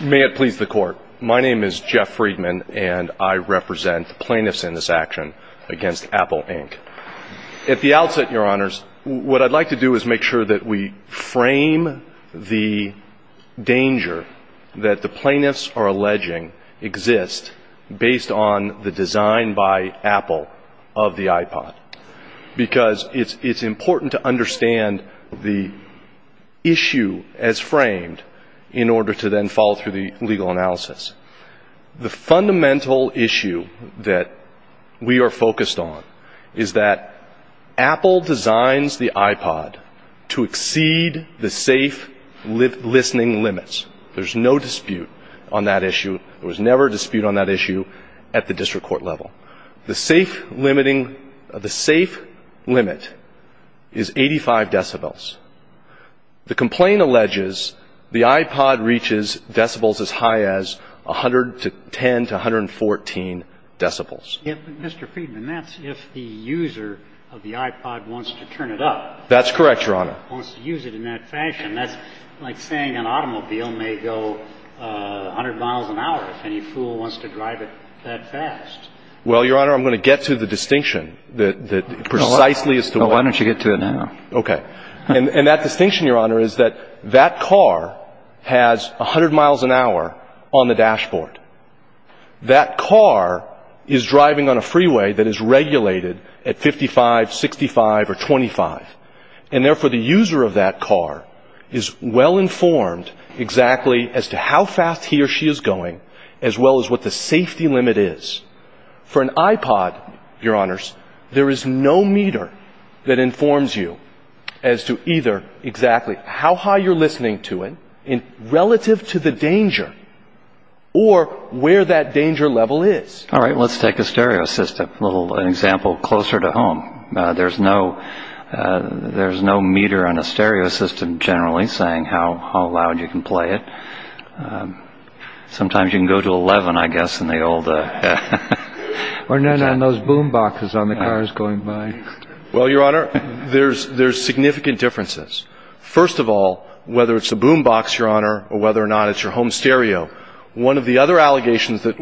May it please the court, my name is Jeff Friedman and I represent the plaintiffs in this action against Apple, Inc. At the outset, your honors, what I'd like to do is make sure that we frame the danger that the plaintiffs are alleging exists based on the design by Apple of the iPod. Because it's important to understand the issue as framed in order to then follow through the legal analysis. The fundamental issue that we are focused on is that Apple designs the iPod to exceed the safe listening limits. There's no dispute on that issue. There was never a dispute on that issue at the district court level. The safe limiting, the safe limit is 85 decibels. The complaint alleges the iPod reaches decibels as high as 100 to 10 to 114 decibels. Mr. Friedman, that's if the user of the iPod wants to turn it up. That's correct, your honor. Wants to use it in that fashion. And that's like saying an automobile may go 100 miles an hour if any fool wants to drive it that fast. Well, your honor, I'm going to get to the distinction that precisely is the one. Why don't you get to it now? Okay. And that distinction, your honor, is that that car has 100 miles an hour on the dashboard. That car is driving on a freeway that is regulated at 55, 65 or 25. And therefore, the user of that car is well informed exactly as to how fast he or she is going as well as what the safety limit is. For an iPod, your honors, there is no meter that informs you as to either exactly how high you're listening to it relative to the danger or where that danger level is. All right. Let's take a stereo system. An example closer to home. There's no meter on a stereo system generally saying how loud you can play it. Sometimes you can go to 11, I guess, in the old. Or none on those boom boxes on the cars going by. Well, your honor, there's significant differences. First of all, whether it's a boom box, your honor, or whether or not it's your home stereo, one of the other allegations that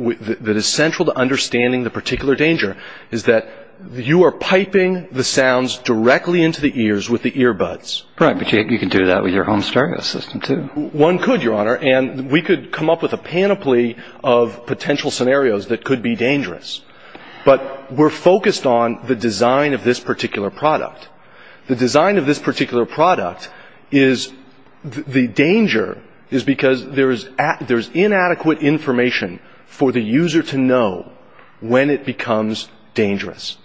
is central to understanding the particular danger is that you are piping the sounds directly into the ears with the earbuds. Right. But you can do that with your home stereo system, too. One could, your honor. And we could come up with a panoply of potential scenarios that could be dangerous. But we're focused on the design of this particular product. The design of this particular product is the danger is because there's inadequate information for the user to know when it becomes dangerous.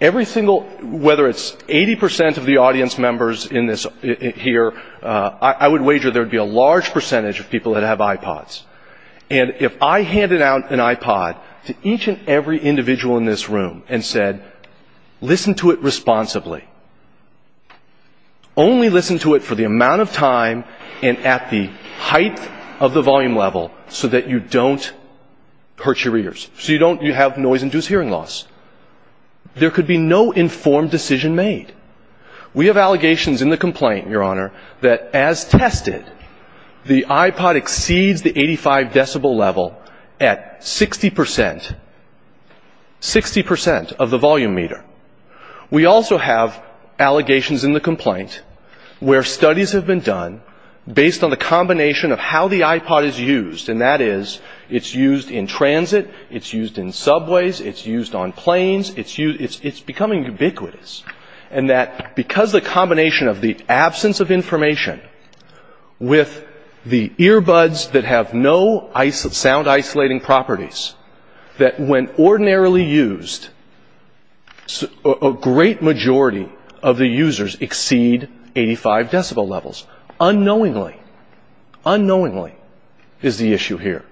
Every single, whether it's 80% of the audience members in this here, I would wager there would be a large percentage of people that have iPods. And if I handed out an iPod to each and every individual in this room and said, listen to it responsibly. Only listen to it for the amount of time and at the height of the volume level so that you don't hurt your ears. So you don't have noise-induced hearing loss. There could be no informed decision made. We have allegations in the complaint, your honor, that as tested, the iPod exceeds the 85 decibel level at 60%, 60% of the volume meter. We also have allegations in the complaint where studies have been done based on the combination of how the iPod is used. And that is it's used in transit. It's used in subways. It's used on planes. It's becoming ubiquitous. And that because the combination of the absence of information with the earbuds that have no sound-isolating properties, that when ordinarily used, a great majority of the users exceed 85 decibel levels. Unknowingly, unknowingly is the issue here.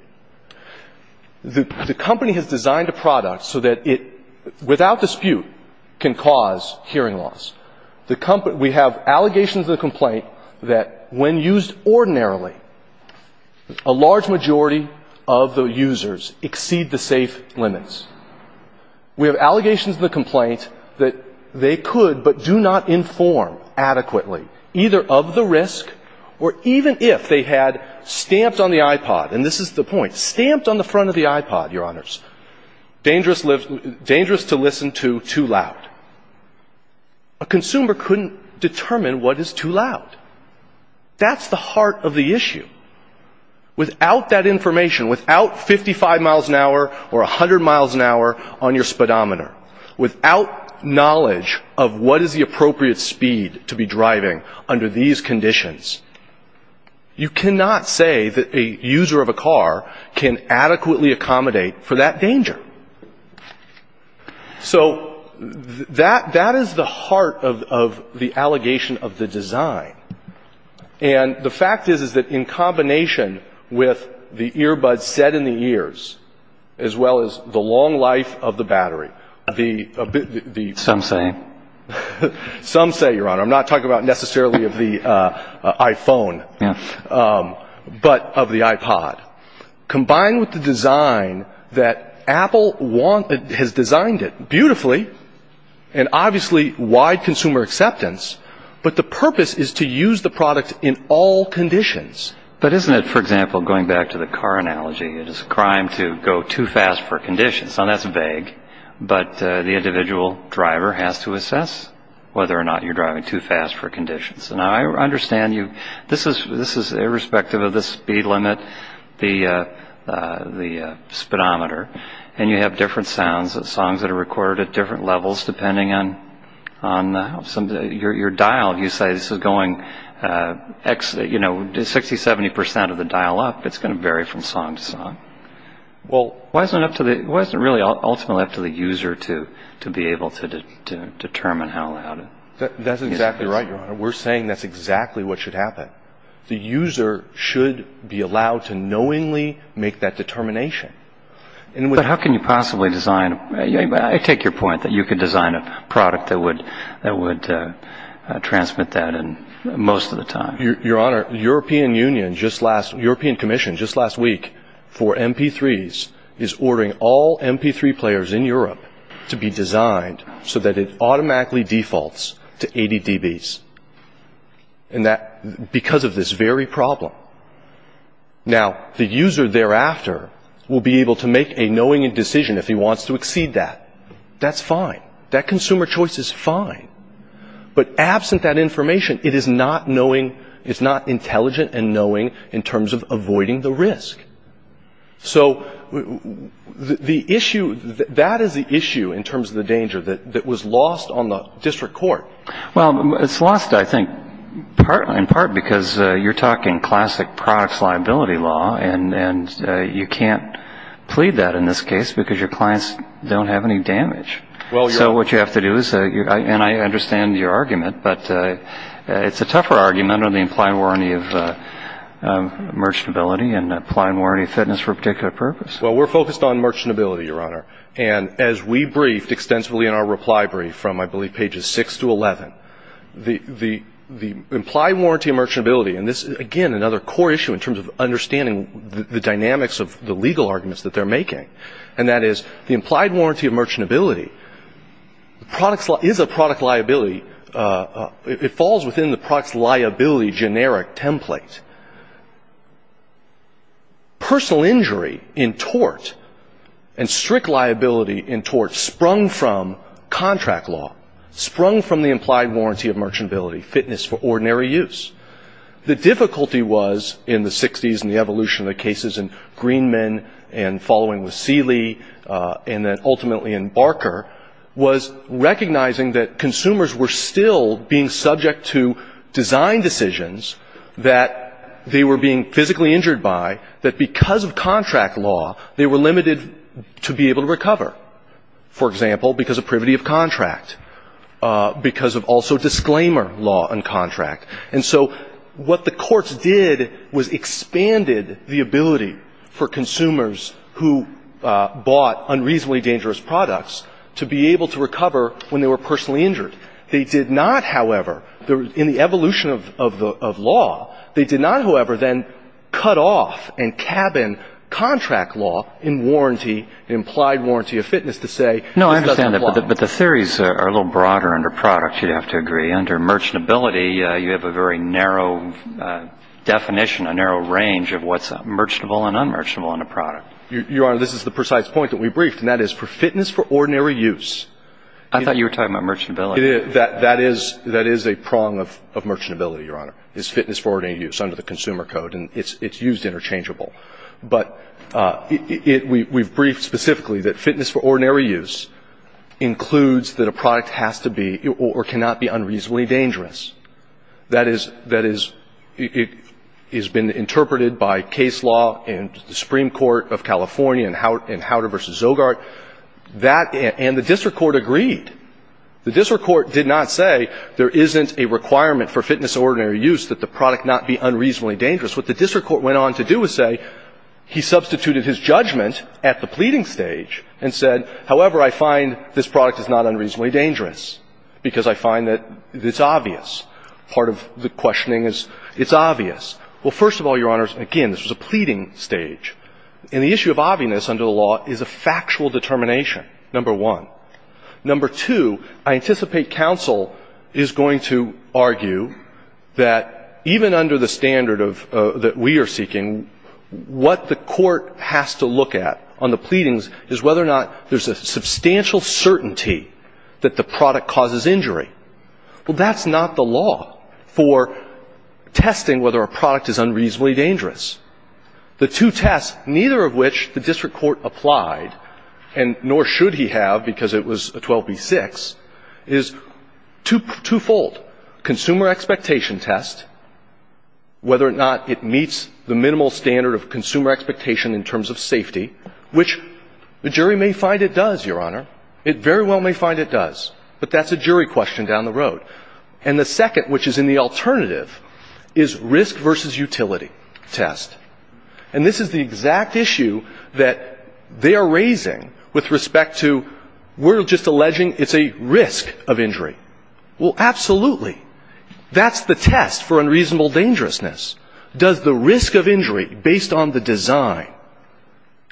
The company has designed a product so that it, without dispute, can cause hearing loss. We have allegations in the complaint that when used ordinarily, a large majority of the users exceed the safe limits. We have allegations in the complaint that they could but do not inform adequately either of the risk or even if they had stamped on the iPod. And this is the point. Stamped on the front of the iPod, your honors, dangerous to listen to, too loud. A consumer couldn't determine what is too loud. That's the heart of the issue. Without that information, without 55 miles an hour or 100 miles an hour on your speedometer, without knowledge of what is the appropriate speed to be driving under these conditions, you cannot say that a user of a car can adequately accommodate for that danger. So that is the heart of the allegation of the design. And the fact is, is that in combination with the earbuds set in the ears, as well as the long life of the battery, the... Some say. Some say, your honor. I'm not talking about necessarily of the iPhone, but of the iPod. Combined with the design that Apple has designed it beautifully and obviously wide consumer acceptance, but the purpose is to use the product in all conditions. But isn't it, for example, going back to the car analogy, it is a crime to go too fast for conditions. That's vague, but the individual driver has to assess whether or not you're driving too fast for conditions. And I understand you. This is irrespective of the speed limit, the speedometer, and you have different sounds, songs that are recorded at different levels depending on your dial. You say this is going 60, 70 percent of the dial up. It's going to vary from song to song. Why is it really ultimately up to the user to be able to determine how loud it is? That's exactly right, your honor. We're saying that's exactly what should happen. The user should be allowed to knowingly make that determination. But how can you possibly design... I take your point that you could design a product that would transmit that most of the time. Your honor, European Commission just last week for MP3s is ordering all MP3 players in Europe to be designed so that it automatically defaults to 80 dBs because of this very problem. Now, the user thereafter will be able to make a knowingly decision if he wants to exceed that. That's fine. That consumer choice is fine. But absent that information, it is not intelligent and knowing in terms of avoiding the risk. So that is the issue in terms of the danger that was lost on the district court. Well, it's lost, I think, in part because you're talking classic products liability law, and you can't plead that in this case because your clients don't have any damage. So what you have to do is, and I understand your argument, but it's a tougher argument on the implied warranty of merchantability and implied warranty of fitness for a particular purpose. Well, we're focused on merchantability, your honor. And as we briefed extensively in our reply brief from, I believe, pages 6 to 11, the implied warranty of merchantability, and this is, again, another core issue in terms of understanding the dynamics of the legal arguments that they're making, and that is the implied warranty of merchantability is a product liability. It falls within the product liability generic template. Personal injury in tort and strict liability in tort sprung from contract law, sprung from the implied warranty of merchantability, fitness for ordinary use. The difficulty was, in the 60s and the evolution of the cases in Greenman and following with Seeley and then ultimately in Barker, was recognizing that consumers were still being subject to design decisions that they were being physically injured by, that because of contract law they were limited to be able to recover. For example, because of privity of contract, because of also disclaimer law on contract. And so what the courts did was expanded the ability for consumers who bought unreasonably dangerous products to be able to recover when they were personally injured. They did not, however, in the evolution of law, they did not, however, then cut off and cabin contract law in warranty, implied warranty of fitness to say this doesn't apply. No, I understand that, but the theories are a little broader under product, you'd have to agree. Under merchantability, you have a very narrow definition, a narrow range of what's merchantable and unmerchantable in a product. Your Honor, this is the precise point that we briefed, and that is for fitness for ordinary use. I thought you were talking about merchantability. That is a prong of merchantability, Your Honor, is fitness for ordinary use under the Consumer Code, and it's used interchangeable. But we've briefed specifically that fitness for ordinary use includes that a product has to be or cannot be unreasonably dangerous. That is been interpreted by case law in the Supreme Court of California in Howder v. Zogart, and the district court agreed. The district court did not say there isn't a requirement for fitness for ordinary use that the product not be unreasonably dangerous. What the district court went on to do is say he substituted his judgment at the pleading stage and said, however, I find this product is not unreasonably dangerous because I find that it's obvious. Part of the questioning is it's obvious. Well, first of all, Your Honors, again, this was a pleading stage. And the issue of obvious under the law is a factual determination, number one. Number two, I anticipate counsel is going to argue that even under the standard that we are seeking, what the court has to look at on the pleadings is whether or not there's a substantial certainty that the product causes injury. Well, that's not the law for testing whether a product is unreasonably dangerous. The two tests, neither of which the district court applied, and nor should he have because it was a 12b-6, is twofold, consumer expectation test, whether or not it meets the minimal standard of consumer expectation in terms of safety, which the jury may find it does, Your Honor. It very well may find it does. But that's a jury question down the road. And the second, which is in the alternative, is risk versus utility test. And this is the exact issue that they are raising with respect to we're just alleging it's a risk of injury. Well, absolutely. That's the test for unreasonable dangerousness. Does the risk of injury based on the design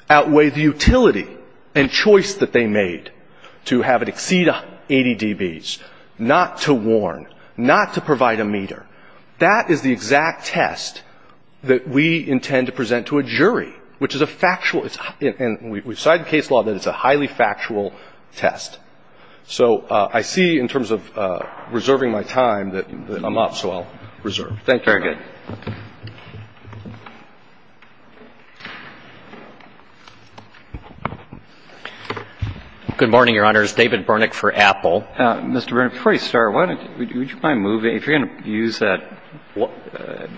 outweigh the utility and choice that they made to have it exceed 80 dBs, not to warn, not to provide a meter? That is the exact test that we intend to present to a jury, which is a factual and we've cited case law that it's a highly factual test. So I see in terms of reserving my time that I'm up, so I'll reserve. Thank you, Your Honor. All right. Good morning, Your Honors. David Burnick for Apple. Mr. Burnick, before you start, why don't you, would you mind moving, if you're going to use that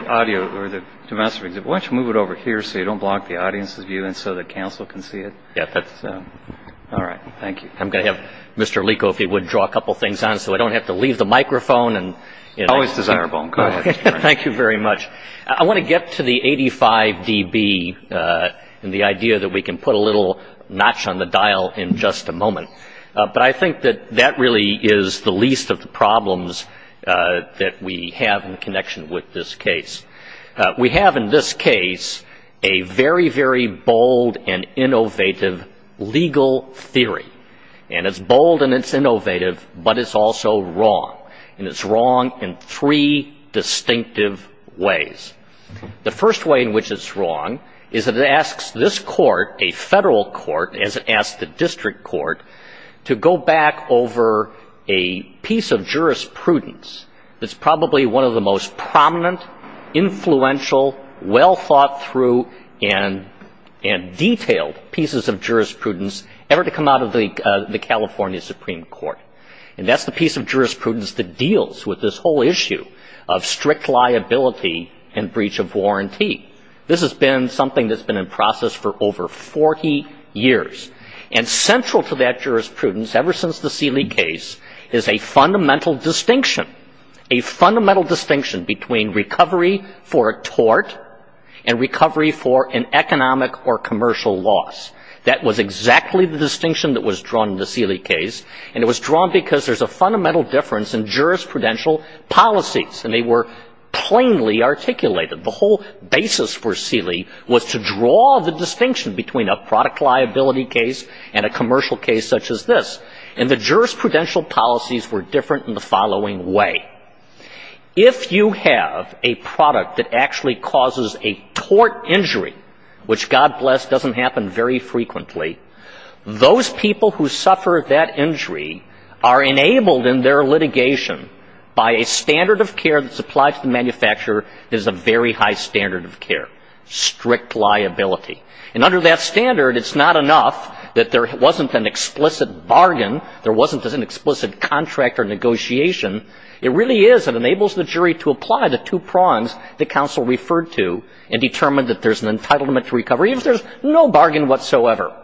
audio or the domestic, why don't you move it over here so you don't block the audience's view and so the counsel can see it? Yeah, that's. All right. Thank you. I'm going to have Mr. Lico, if he would, draw a couple things on so I don't have to leave the microphone. Always desirable. Go ahead, Mr. Burnick. Thank you very much. I want to get to the 85 dB and the idea that we can put a little notch on the dial in just a moment. But I think that that really is the least of the problems that we have in connection with this case. We have in this case a very, very bold and innovative legal theory. And it's bold and it's innovative, but it's also wrong. And it's wrong in three distinctive ways. The first way in which it's wrong is that it asks this court, a federal court, as it asks the district court, to go back over a piece of jurisprudence that's probably one of the most prominent, influential, well thought through and detailed pieces of jurisprudence ever to come out of the California Supreme Court. And that's the piece of jurisprudence that deals with this whole issue of strict liability and breach of warranty. This has been something that's been in process for over 40 years. And central to that jurisprudence ever since the Seeley case is a fundamental distinction, a fundamental distinction between recovery for a tort and recovery for an economic or commercial loss. That was exactly the distinction that was drawn in the Seeley case. And it was drawn because there's a fundamental difference in jurisprudential policies. And they were plainly articulated. The whole basis for Seeley was to draw the distinction between a product liability case and a commercial case such as this. And the jurisprudential policies were different in the following way. If you have a product that actually causes a tort injury, which God bless doesn't happen very frequently, those people who suffer that injury are enabled in their litigation by a standard of care that's applied to the manufacturer that is a very high standard of care, strict liability. And under that standard, it's not enough that there wasn't an explicit bargain, there wasn't an explicit contract or negotiation. It really is, it enables the jury to apply the two prongs that counsel referred to and determine that there's an entitlement to recovery, even if there's no bargain whatsoever.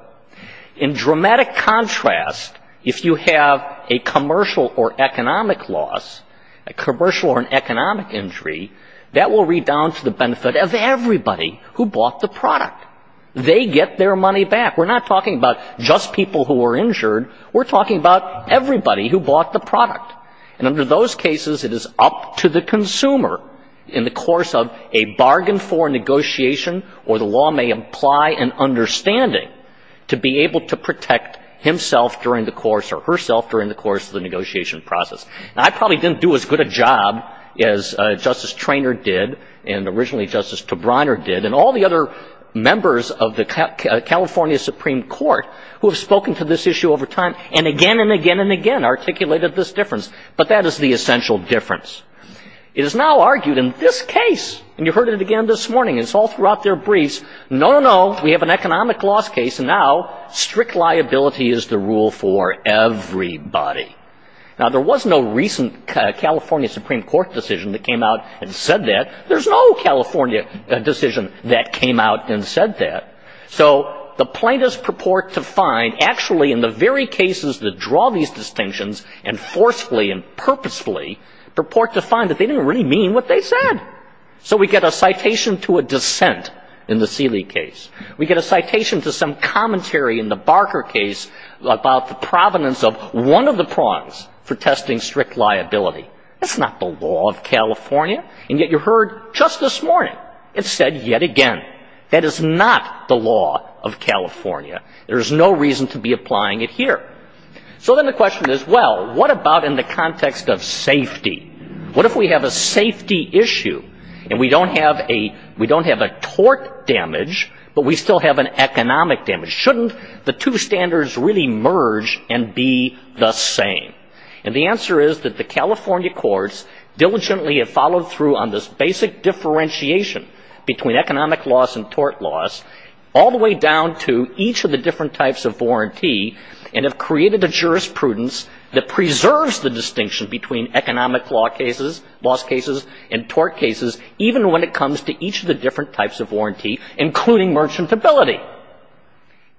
In dramatic contrast, if you have a commercial or economic loss, a commercial or an economic injury, that will read down to the benefit of everybody who bought the product. They get their money back. We're not talking about just people who were injured. We're talking about everybody who bought the product. And under those cases, it is up to the consumer in the course of a bargain for negotiation or the law may imply an understanding to be able to protect himself during the course or herself during the course of the negotiation process. Now, I probably didn't do as good a job as Justice Treanor did and originally Justice Tobriner did and all the other members of the California Supreme Court who have spoken to this issue over time and again and again and again articulated this difference. But that is the essential difference. It is now argued in this case, and you heard it again this morning, it's all throughout their briefs, no, no, we have an economic loss case and now strict liability is the rule for everybody. Now, there was no recent California Supreme Court decision that came out and said that. There's no California decision that came out and said that. So the plaintiffs purport to find actually in the very cases that draw these distinctions and forcefully and purposefully purport to find that they didn't really mean what they said. So we get a citation to a dissent in the Seeley case. We get a citation to some commentary in the Barker case about the provenance of one of the prongs for testing strict liability. That's not the law of California. And yet you heard just this morning, it's said yet again. That is not the law of California. There's no reason to be applying it here. So then the question is, well, what about in the context of safety? What if we have a safety issue and we don't have a tort damage, but we still have an economic damage? Shouldn't the two standards really merge and be the same? And the answer is that the California courts diligently have followed through on this basic differentiation between economic loss and tort loss all the way down to each of the different types of warranty and have created a jurisprudence that preserves the distinction between economic loss cases and tort cases even when it comes to each of the different types of warranty, including merchantability.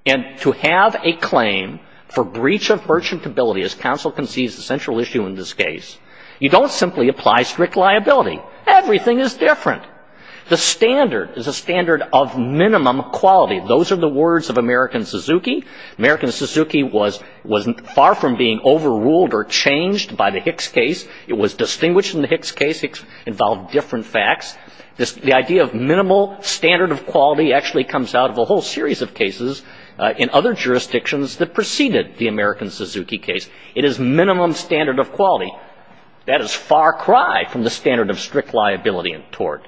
And to have a claim for breach of merchantability, as counsel concedes is the central issue in this case, you don't simply apply strict liability. Everything is different. The standard is a standard of minimum quality. Those are the words of American Suzuki. American Suzuki was far from being overruled or changed by the Hicks case. It was distinguished in the Hicks case. It involved different facts. The idea of minimal standard of quality actually comes out of a whole series of cases in other jurisdictions that preceded the American Suzuki case. It is minimum standard of quality. That is far cry from the standard of strict liability in tort.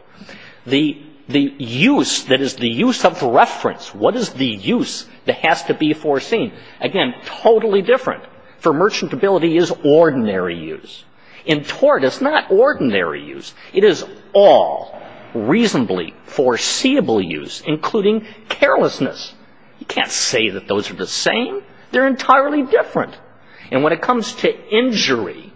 The use that is the use of reference, what is the use that has to be foreseen, again, totally different. For merchantability is ordinary use. In tort, it's not ordinary use. It is all reasonably foreseeable use, including carelessness. You can't say that those are the same. They're entirely different. And when it comes to injury,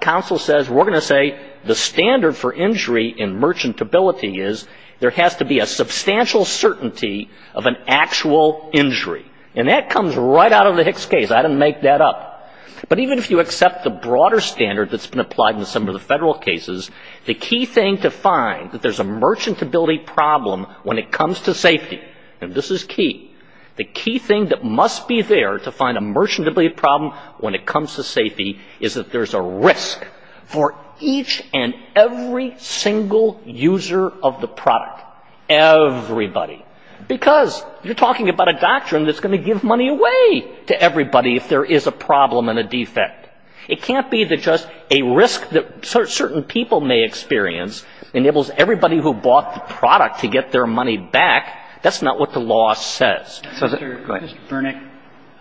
counsel says we're going to say the standard for injury in merchantability is there has to be a substantial certainty of an actual injury. And that comes right out of the Hicks case. I didn't make that up. But even if you accept the broader standard that's been applied in some of the federal cases, the key thing to find that there's a merchantability problem when it comes to safety, and this is key, the key thing that must be there to find a merchantability problem when it comes to safety is that there's a risk for each and every single user of the product. Everybody. Because you're talking about a doctrine that's going to give money away to everybody if there is a problem and a defect. It can't be that just a risk that certain people may experience enables everybody who bought the product to get their money back. That's not what the law says. Go ahead. Mr.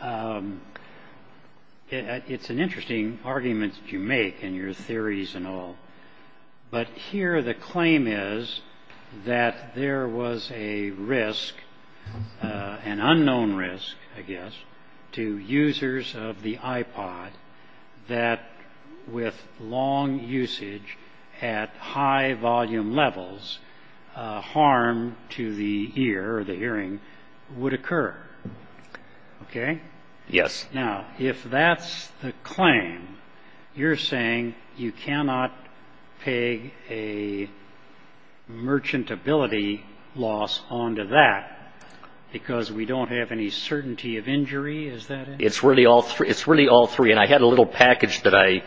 Furnick, it's an interesting argument that you make in your theories and all. But here the claim is that there was a risk, an unknown risk, I guess, to users of the iPod that with long usage at high volume levels, harm to the ear or the hearing would occur. Okay? Yes. Now, if that's the claim, you're saying you cannot peg a merchantability loss onto that because we don't have any certainty of injury? Is that it? It's really all three. And I had a little package that I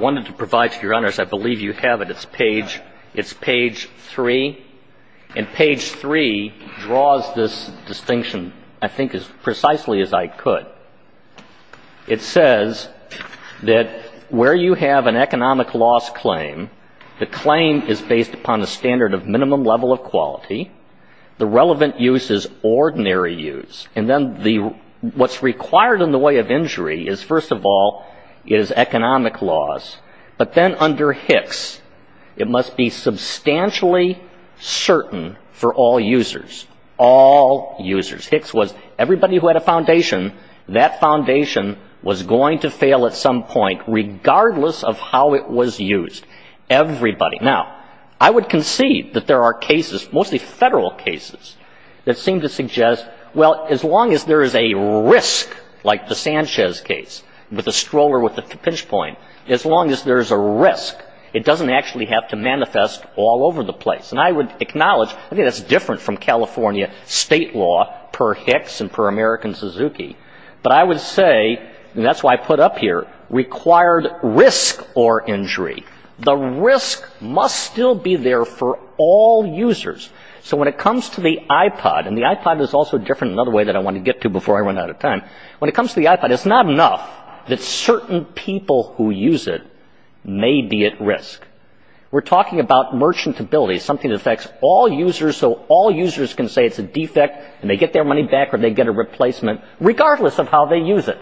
wanted to provide to your honors. I believe you have it. It's page three. And page three draws this distinction, I think, as precisely as I could. It says that where you have an economic loss claim, the claim is based upon a standard of minimum level of quality. The relevant use is ordinary use. And then what's required in the way of injury is, first of all, is economic loss. But then under Hicks, it must be substantially certain for all users. All users. Hicks was everybody who had a foundation, that foundation was going to fail at some point, regardless of how it was used. Everybody. Now, I would concede that there are cases, mostly federal cases, that seem to suggest, well, as long as there is a risk, like the Sanchez case, with the stroller with the pinch point, as long as there's a risk, it doesn't actually have to manifest all over the place. And I would acknowledge, I think that's different from California state law, per Hicks and per American Suzuki. But I would say, and that's why I put up here, required risk or injury. The risk must still be there for all users. So when it comes to the iPod, and the iPod is also different, another way that I want to get to before I run out of time. When it comes to the iPod, it's not enough that certain people who use it may be at risk. We're talking about merchantability, something that affects all users, so all users can say it's a defect and they get their money back or they get a replacement, regardless of how they use it.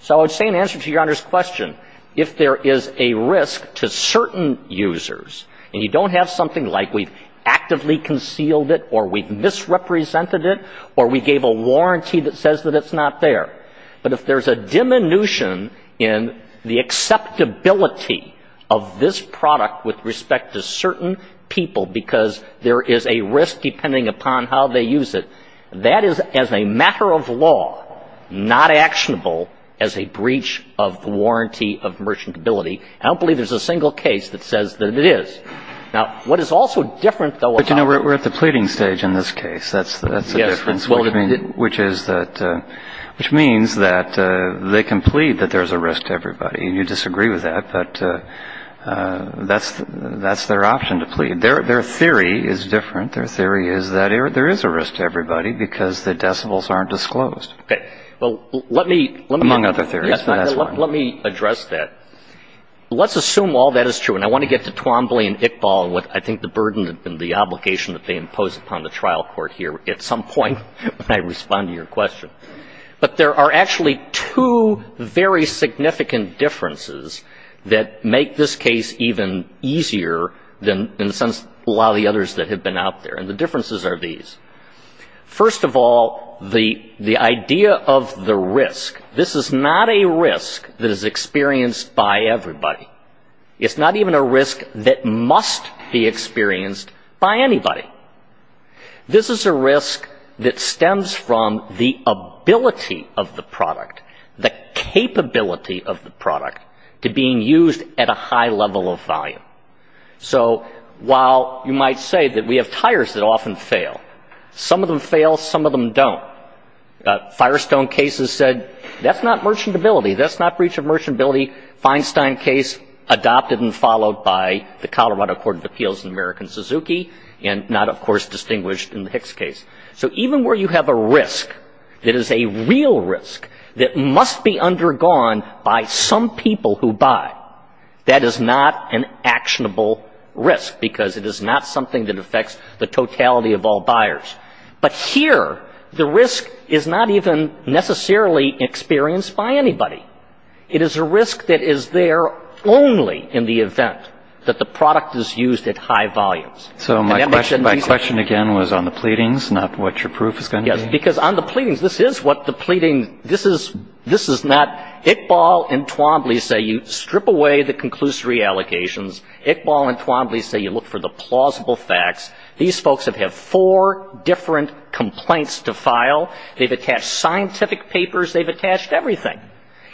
So I would say in answer to Your Honor's question, if there is a risk to certain users and you don't have something like we've actively concealed it or we've misrepresented it or we gave a warranty that says that it's not there, but if there's a diminution in the acceptability of this product with respect to certain people because there is a risk depending upon how they use it, that is, as a matter of law, not actionable as a breach of the warranty of merchantability. I don't believe there's a single case that says that it is. Now, what is also different, though, about the – But, you know, we're at the pleading stage in this case. That's the difference, which means that they can plead that there's a risk to everybody, and you disagree with that, but that's their option to plead. Their theory is different. Their theory is that there is a risk to everybody because the decibels aren't disclosed. Okay. Well, let me – Among other theories. Let me address that. Let's assume all that is true, and I want to get to Twombly and Iqbal and what I think the burden and the obligation that they impose upon the trial court here at some point when I respond to your question. But there are actually two very significant differences that make this case even easier than, in a sense, a lot of the others that have been out there, and the differences are these. First of all, the idea of the risk. This is not a risk that is experienced by everybody. It's not even a risk that must be experienced by anybody. This is a risk that stems from the ability of the product, the capability of the product, to being used at a high level of volume. So while you might say that we have tires that often fail, some of them fail, some of them don't. Firestone cases said that's not merchantability. That's not breach of merchantability. Feinstein case adopted and followed by the Colorado Court of Appeals in American Suzuki and not, of course, distinguished in the Hicks case. So even where you have a risk that is a real risk that must be undergone by some people who buy, that is not an actionable risk because it is not something that affects the totality of all buyers. But here, the risk is not even necessarily experienced by anybody. It is a risk that is there only in the event that the product is used at high volumes. So my question, again, was on the pleadings, not what your proof is going to be. Yes, because on the pleadings, this is what the pleading – this is not – Iqbal and Twombly say you strip away the conclusory allegations. Iqbal and Twombly say you look for the plausible facts. These folks have had four different complaints to file. They've attached scientific papers. They've attached everything.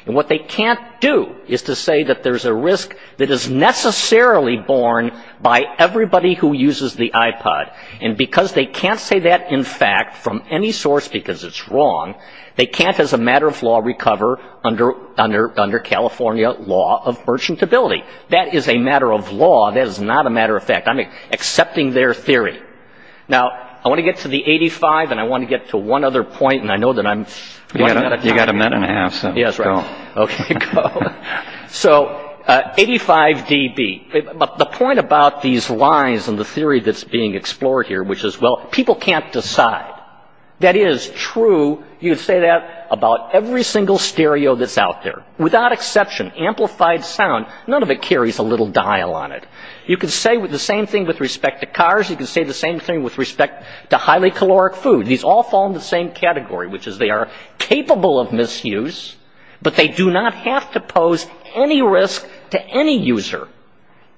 And what they can't do is to say that there's a risk that is necessarily borne by everybody who uses the iPod. And because they can't say that in fact from any source because it's wrong, they can't as a matter of law recover under California law of merchantability. That is a matter of law. That is not a matter of fact. I'm accepting their theory. Now, I want to get to the 85, and I want to get to one other point, and I know that I'm running out of time. You've got a minute and a half, so go. Okay, go. So 85 dB. The point about these lines and the theory that's being explored here, which is, well, people can't decide. That is true – you could say that about every single stereo that's out there. Without exception, amplified sound, none of it carries a little dial on it. You can say the same thing with respect to cars. You can say the same thing with respect to highly caloric food. These all fall in the same category, which is they are capable of misuse, but they do not have to pose any risk to any user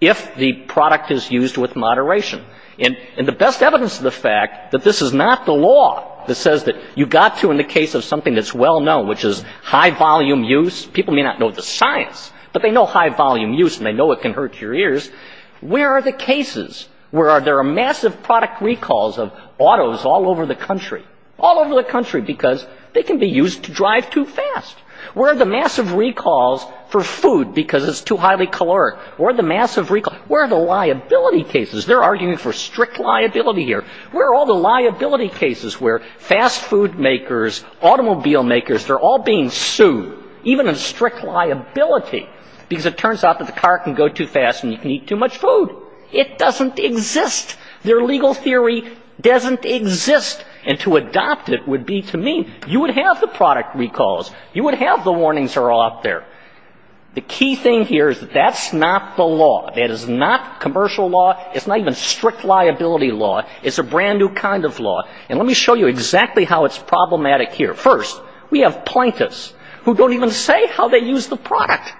if the product is used with moderation. And the best evidence of the fact that this is not the law that says that you've got to in the case of something that's well-known, which is high-volume use – people may not know the science, but they know high-volume use, and they know it can hurt your ears – where are the cases where there are massive product recalls of autos all over the country? All over the country, because they can be used to drive too fast. Where are the massive recalls for food, because it's too highly caloric? Where are the liability cases? They're arguing for strict liability here. Where are all the liability cases where fast food makers, automobile makers, they're all being sued, even in strict liability, because it turns out that the car can go too fast and you can eat too much food. It doesn't exist. Their legal theory doesn't exist. And to adopt it would be to mean you would have the product recalls. You would have the warnings are all up there. The key thing here is that that's not the law. That is not commercial law. It's not even strict liability law. It's a brand-new kind of law. And let me show you exactly how it's problematic here. First, we have plaintiffs who don't even say how they use the product.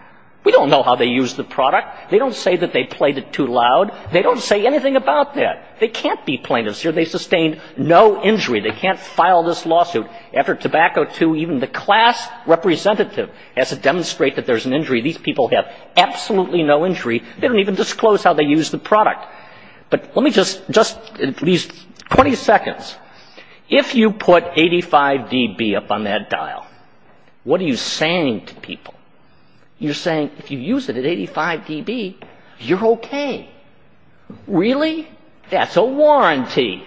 We don't know how they use the product. They don't say that they played it too loud. They don't say anything about that. They can't be plaintiffs here. They sustained no injury. They can't file this lawsuit after tobacco to even the class representative has to demonstrate that there's an injury. These people have absolutely no injury. They don't even disclose how they use the product. But let me just in these 20 seconds, if you put 85dB up on that dial, what are you saying to people? You're saying if you use it at 85dB, you're okay. Really? That's a warranty.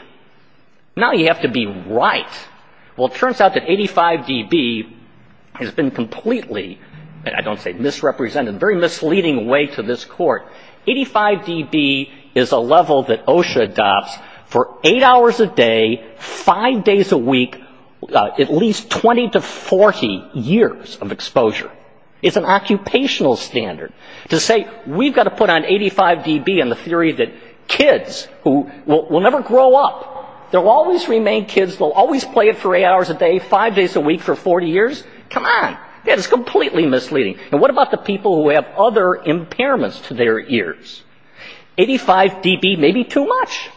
Now you have to be right. Well, it turns out that 85dB has been completely, I don't say misrepresented, a very misleading way to this court. 85dB is a level that OSHA adopts for eight hours a day, five days a week, at least 20 to 40 years of exposure. It's an occupational standard. To say we've got to put on 85dB and the theory that kids will never grow up, they'll always remain kids, they'll always play it for eight hours a day, five days a week for 40 years, come on. That is completely misleading. And what about the people who have other impairments to their ears? 85dB may be too much.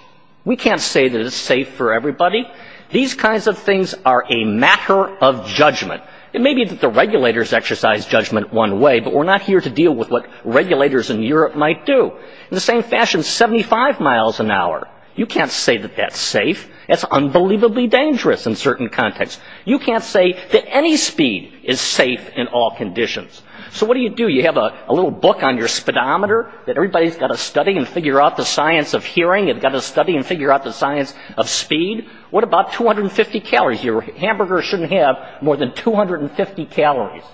We can't say that it's safe for everybody. These kinds of things are a matter of judgment. It may be that the regulators exercise judgment one way, but we're not here to deal with what regulators in Europe might do. In the same fashion, 75 miles an hour, you can't say that that's safe. That's unbelievably dangerous in certain contexts. You can't say that any speed is safe in all conditions. So what do you do? You have a little book on your speedometer that everybody's got to study and figure out the science of hearing. You've got to study and figure out the science of speed. What about 250 calories? Your hamburger shouldn't have more than 250 calories.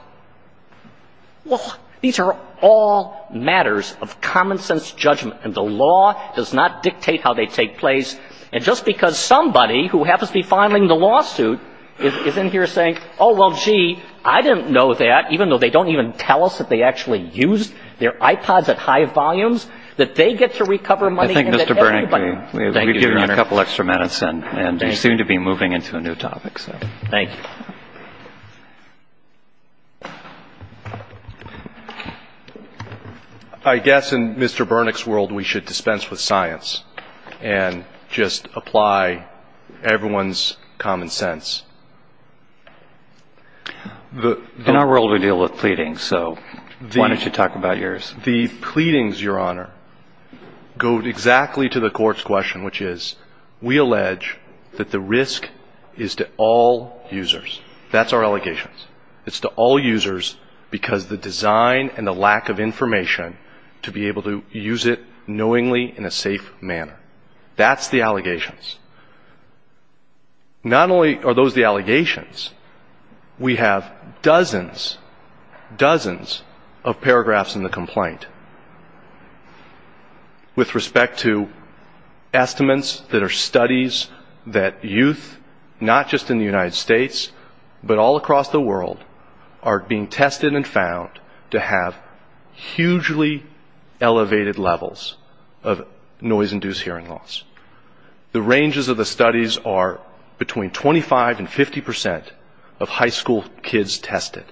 Well, these are all matters of common-sense judgment, and the law does not dictate how they take place. And just because somebody who happens to be filing the lawsuit is in here saying, oh, well, gee, I didn't know that, even though they don't even tell us that they actually use their iPods at high volumes, that they get to recover money. I think, Mr. Bernick, we've given you a couple extra minutes, and we seem to be moving into a new topic. Thank you. I guess in Mr. Bernick's world, we should dispense with science. And just apply everyone's common sense. In our world, we deal with pleadings. So why don't you talk about yours? The pleadings, Your Honor, go exactly to the court's question, which is we allege that the risk is to all users. That's our allegation. It's to all users because the design and the lack of information to be able to use it knowingly in a safe manner. That's the allegations. Not only are those the allegations, we have dozens, dozens of paragraphs in the complaint. With respect to estimates that are studies that youth, not just in the United States, but all across the world are being tested and found to have hugely elevated levels of noise-induced hearing loss. The ranges of the studies are between 25 and 50 percent of high school kids tested.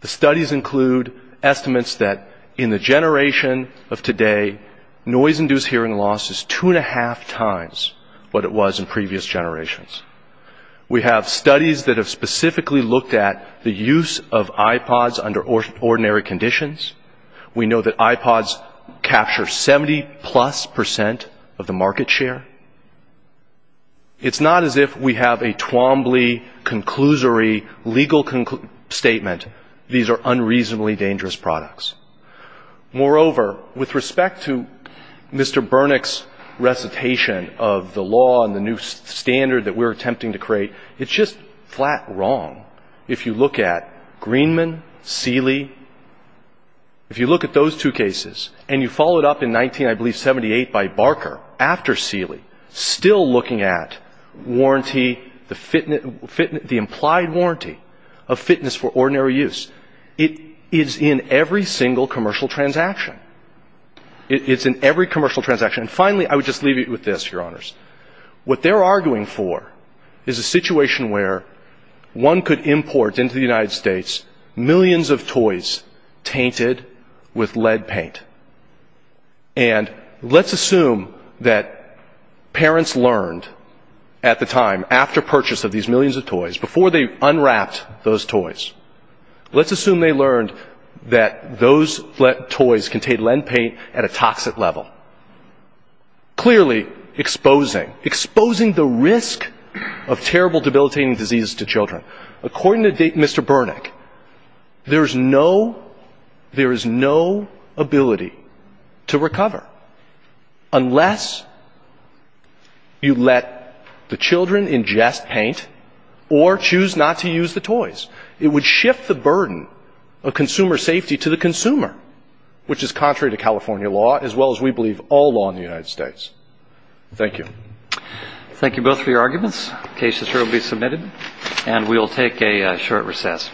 The studies include estimates that in the generation of today, noise-induced hearing loss is two and a half times what it was in previous generations. We have studies that have specifically looked at the use of iPods under ordinary conditions. We know that iPods capture 70 plus percent of the market share. It's not as if we have a Twombly, conclusory, legal statement. These are unreasonably dangerous products. Moreover, with respect to Mr. Burnick's recitation of the law and the new standard that we're attempting to create, it's just flat wrong. If you look at Greenman, Seeley, if you look at those two cases, and you follow it up in 1978 by Barker after Seeley, still looking at the implied warranty of fitness for ordinary use, it is in every single commercial transaction. It's in every commercial transaction. And finally, I would just leave you with this, Your Honors. What they're arguing for is a situation where one could import into the United States millions of toys tainted with lead paint. And let's assume that parents learned at the time, after purchase of these millions of toys, before they unwrapped those toys, let's assume they learned that those toys contained lead paint at a toxic level, clearly exposing, exposing the risk of terrible debilitating diseases to children. According to Mr. Burnick, there is no ability to recover unless you let the children ingest paint or choose not to use the toys. It would shift the burden of consumer safety to the consumer, which is contrary to California law as well as, we believe, all law in the United States. Thank you. Thank you both for your arguments. The case is here to be submitted, and we'll take a short recess.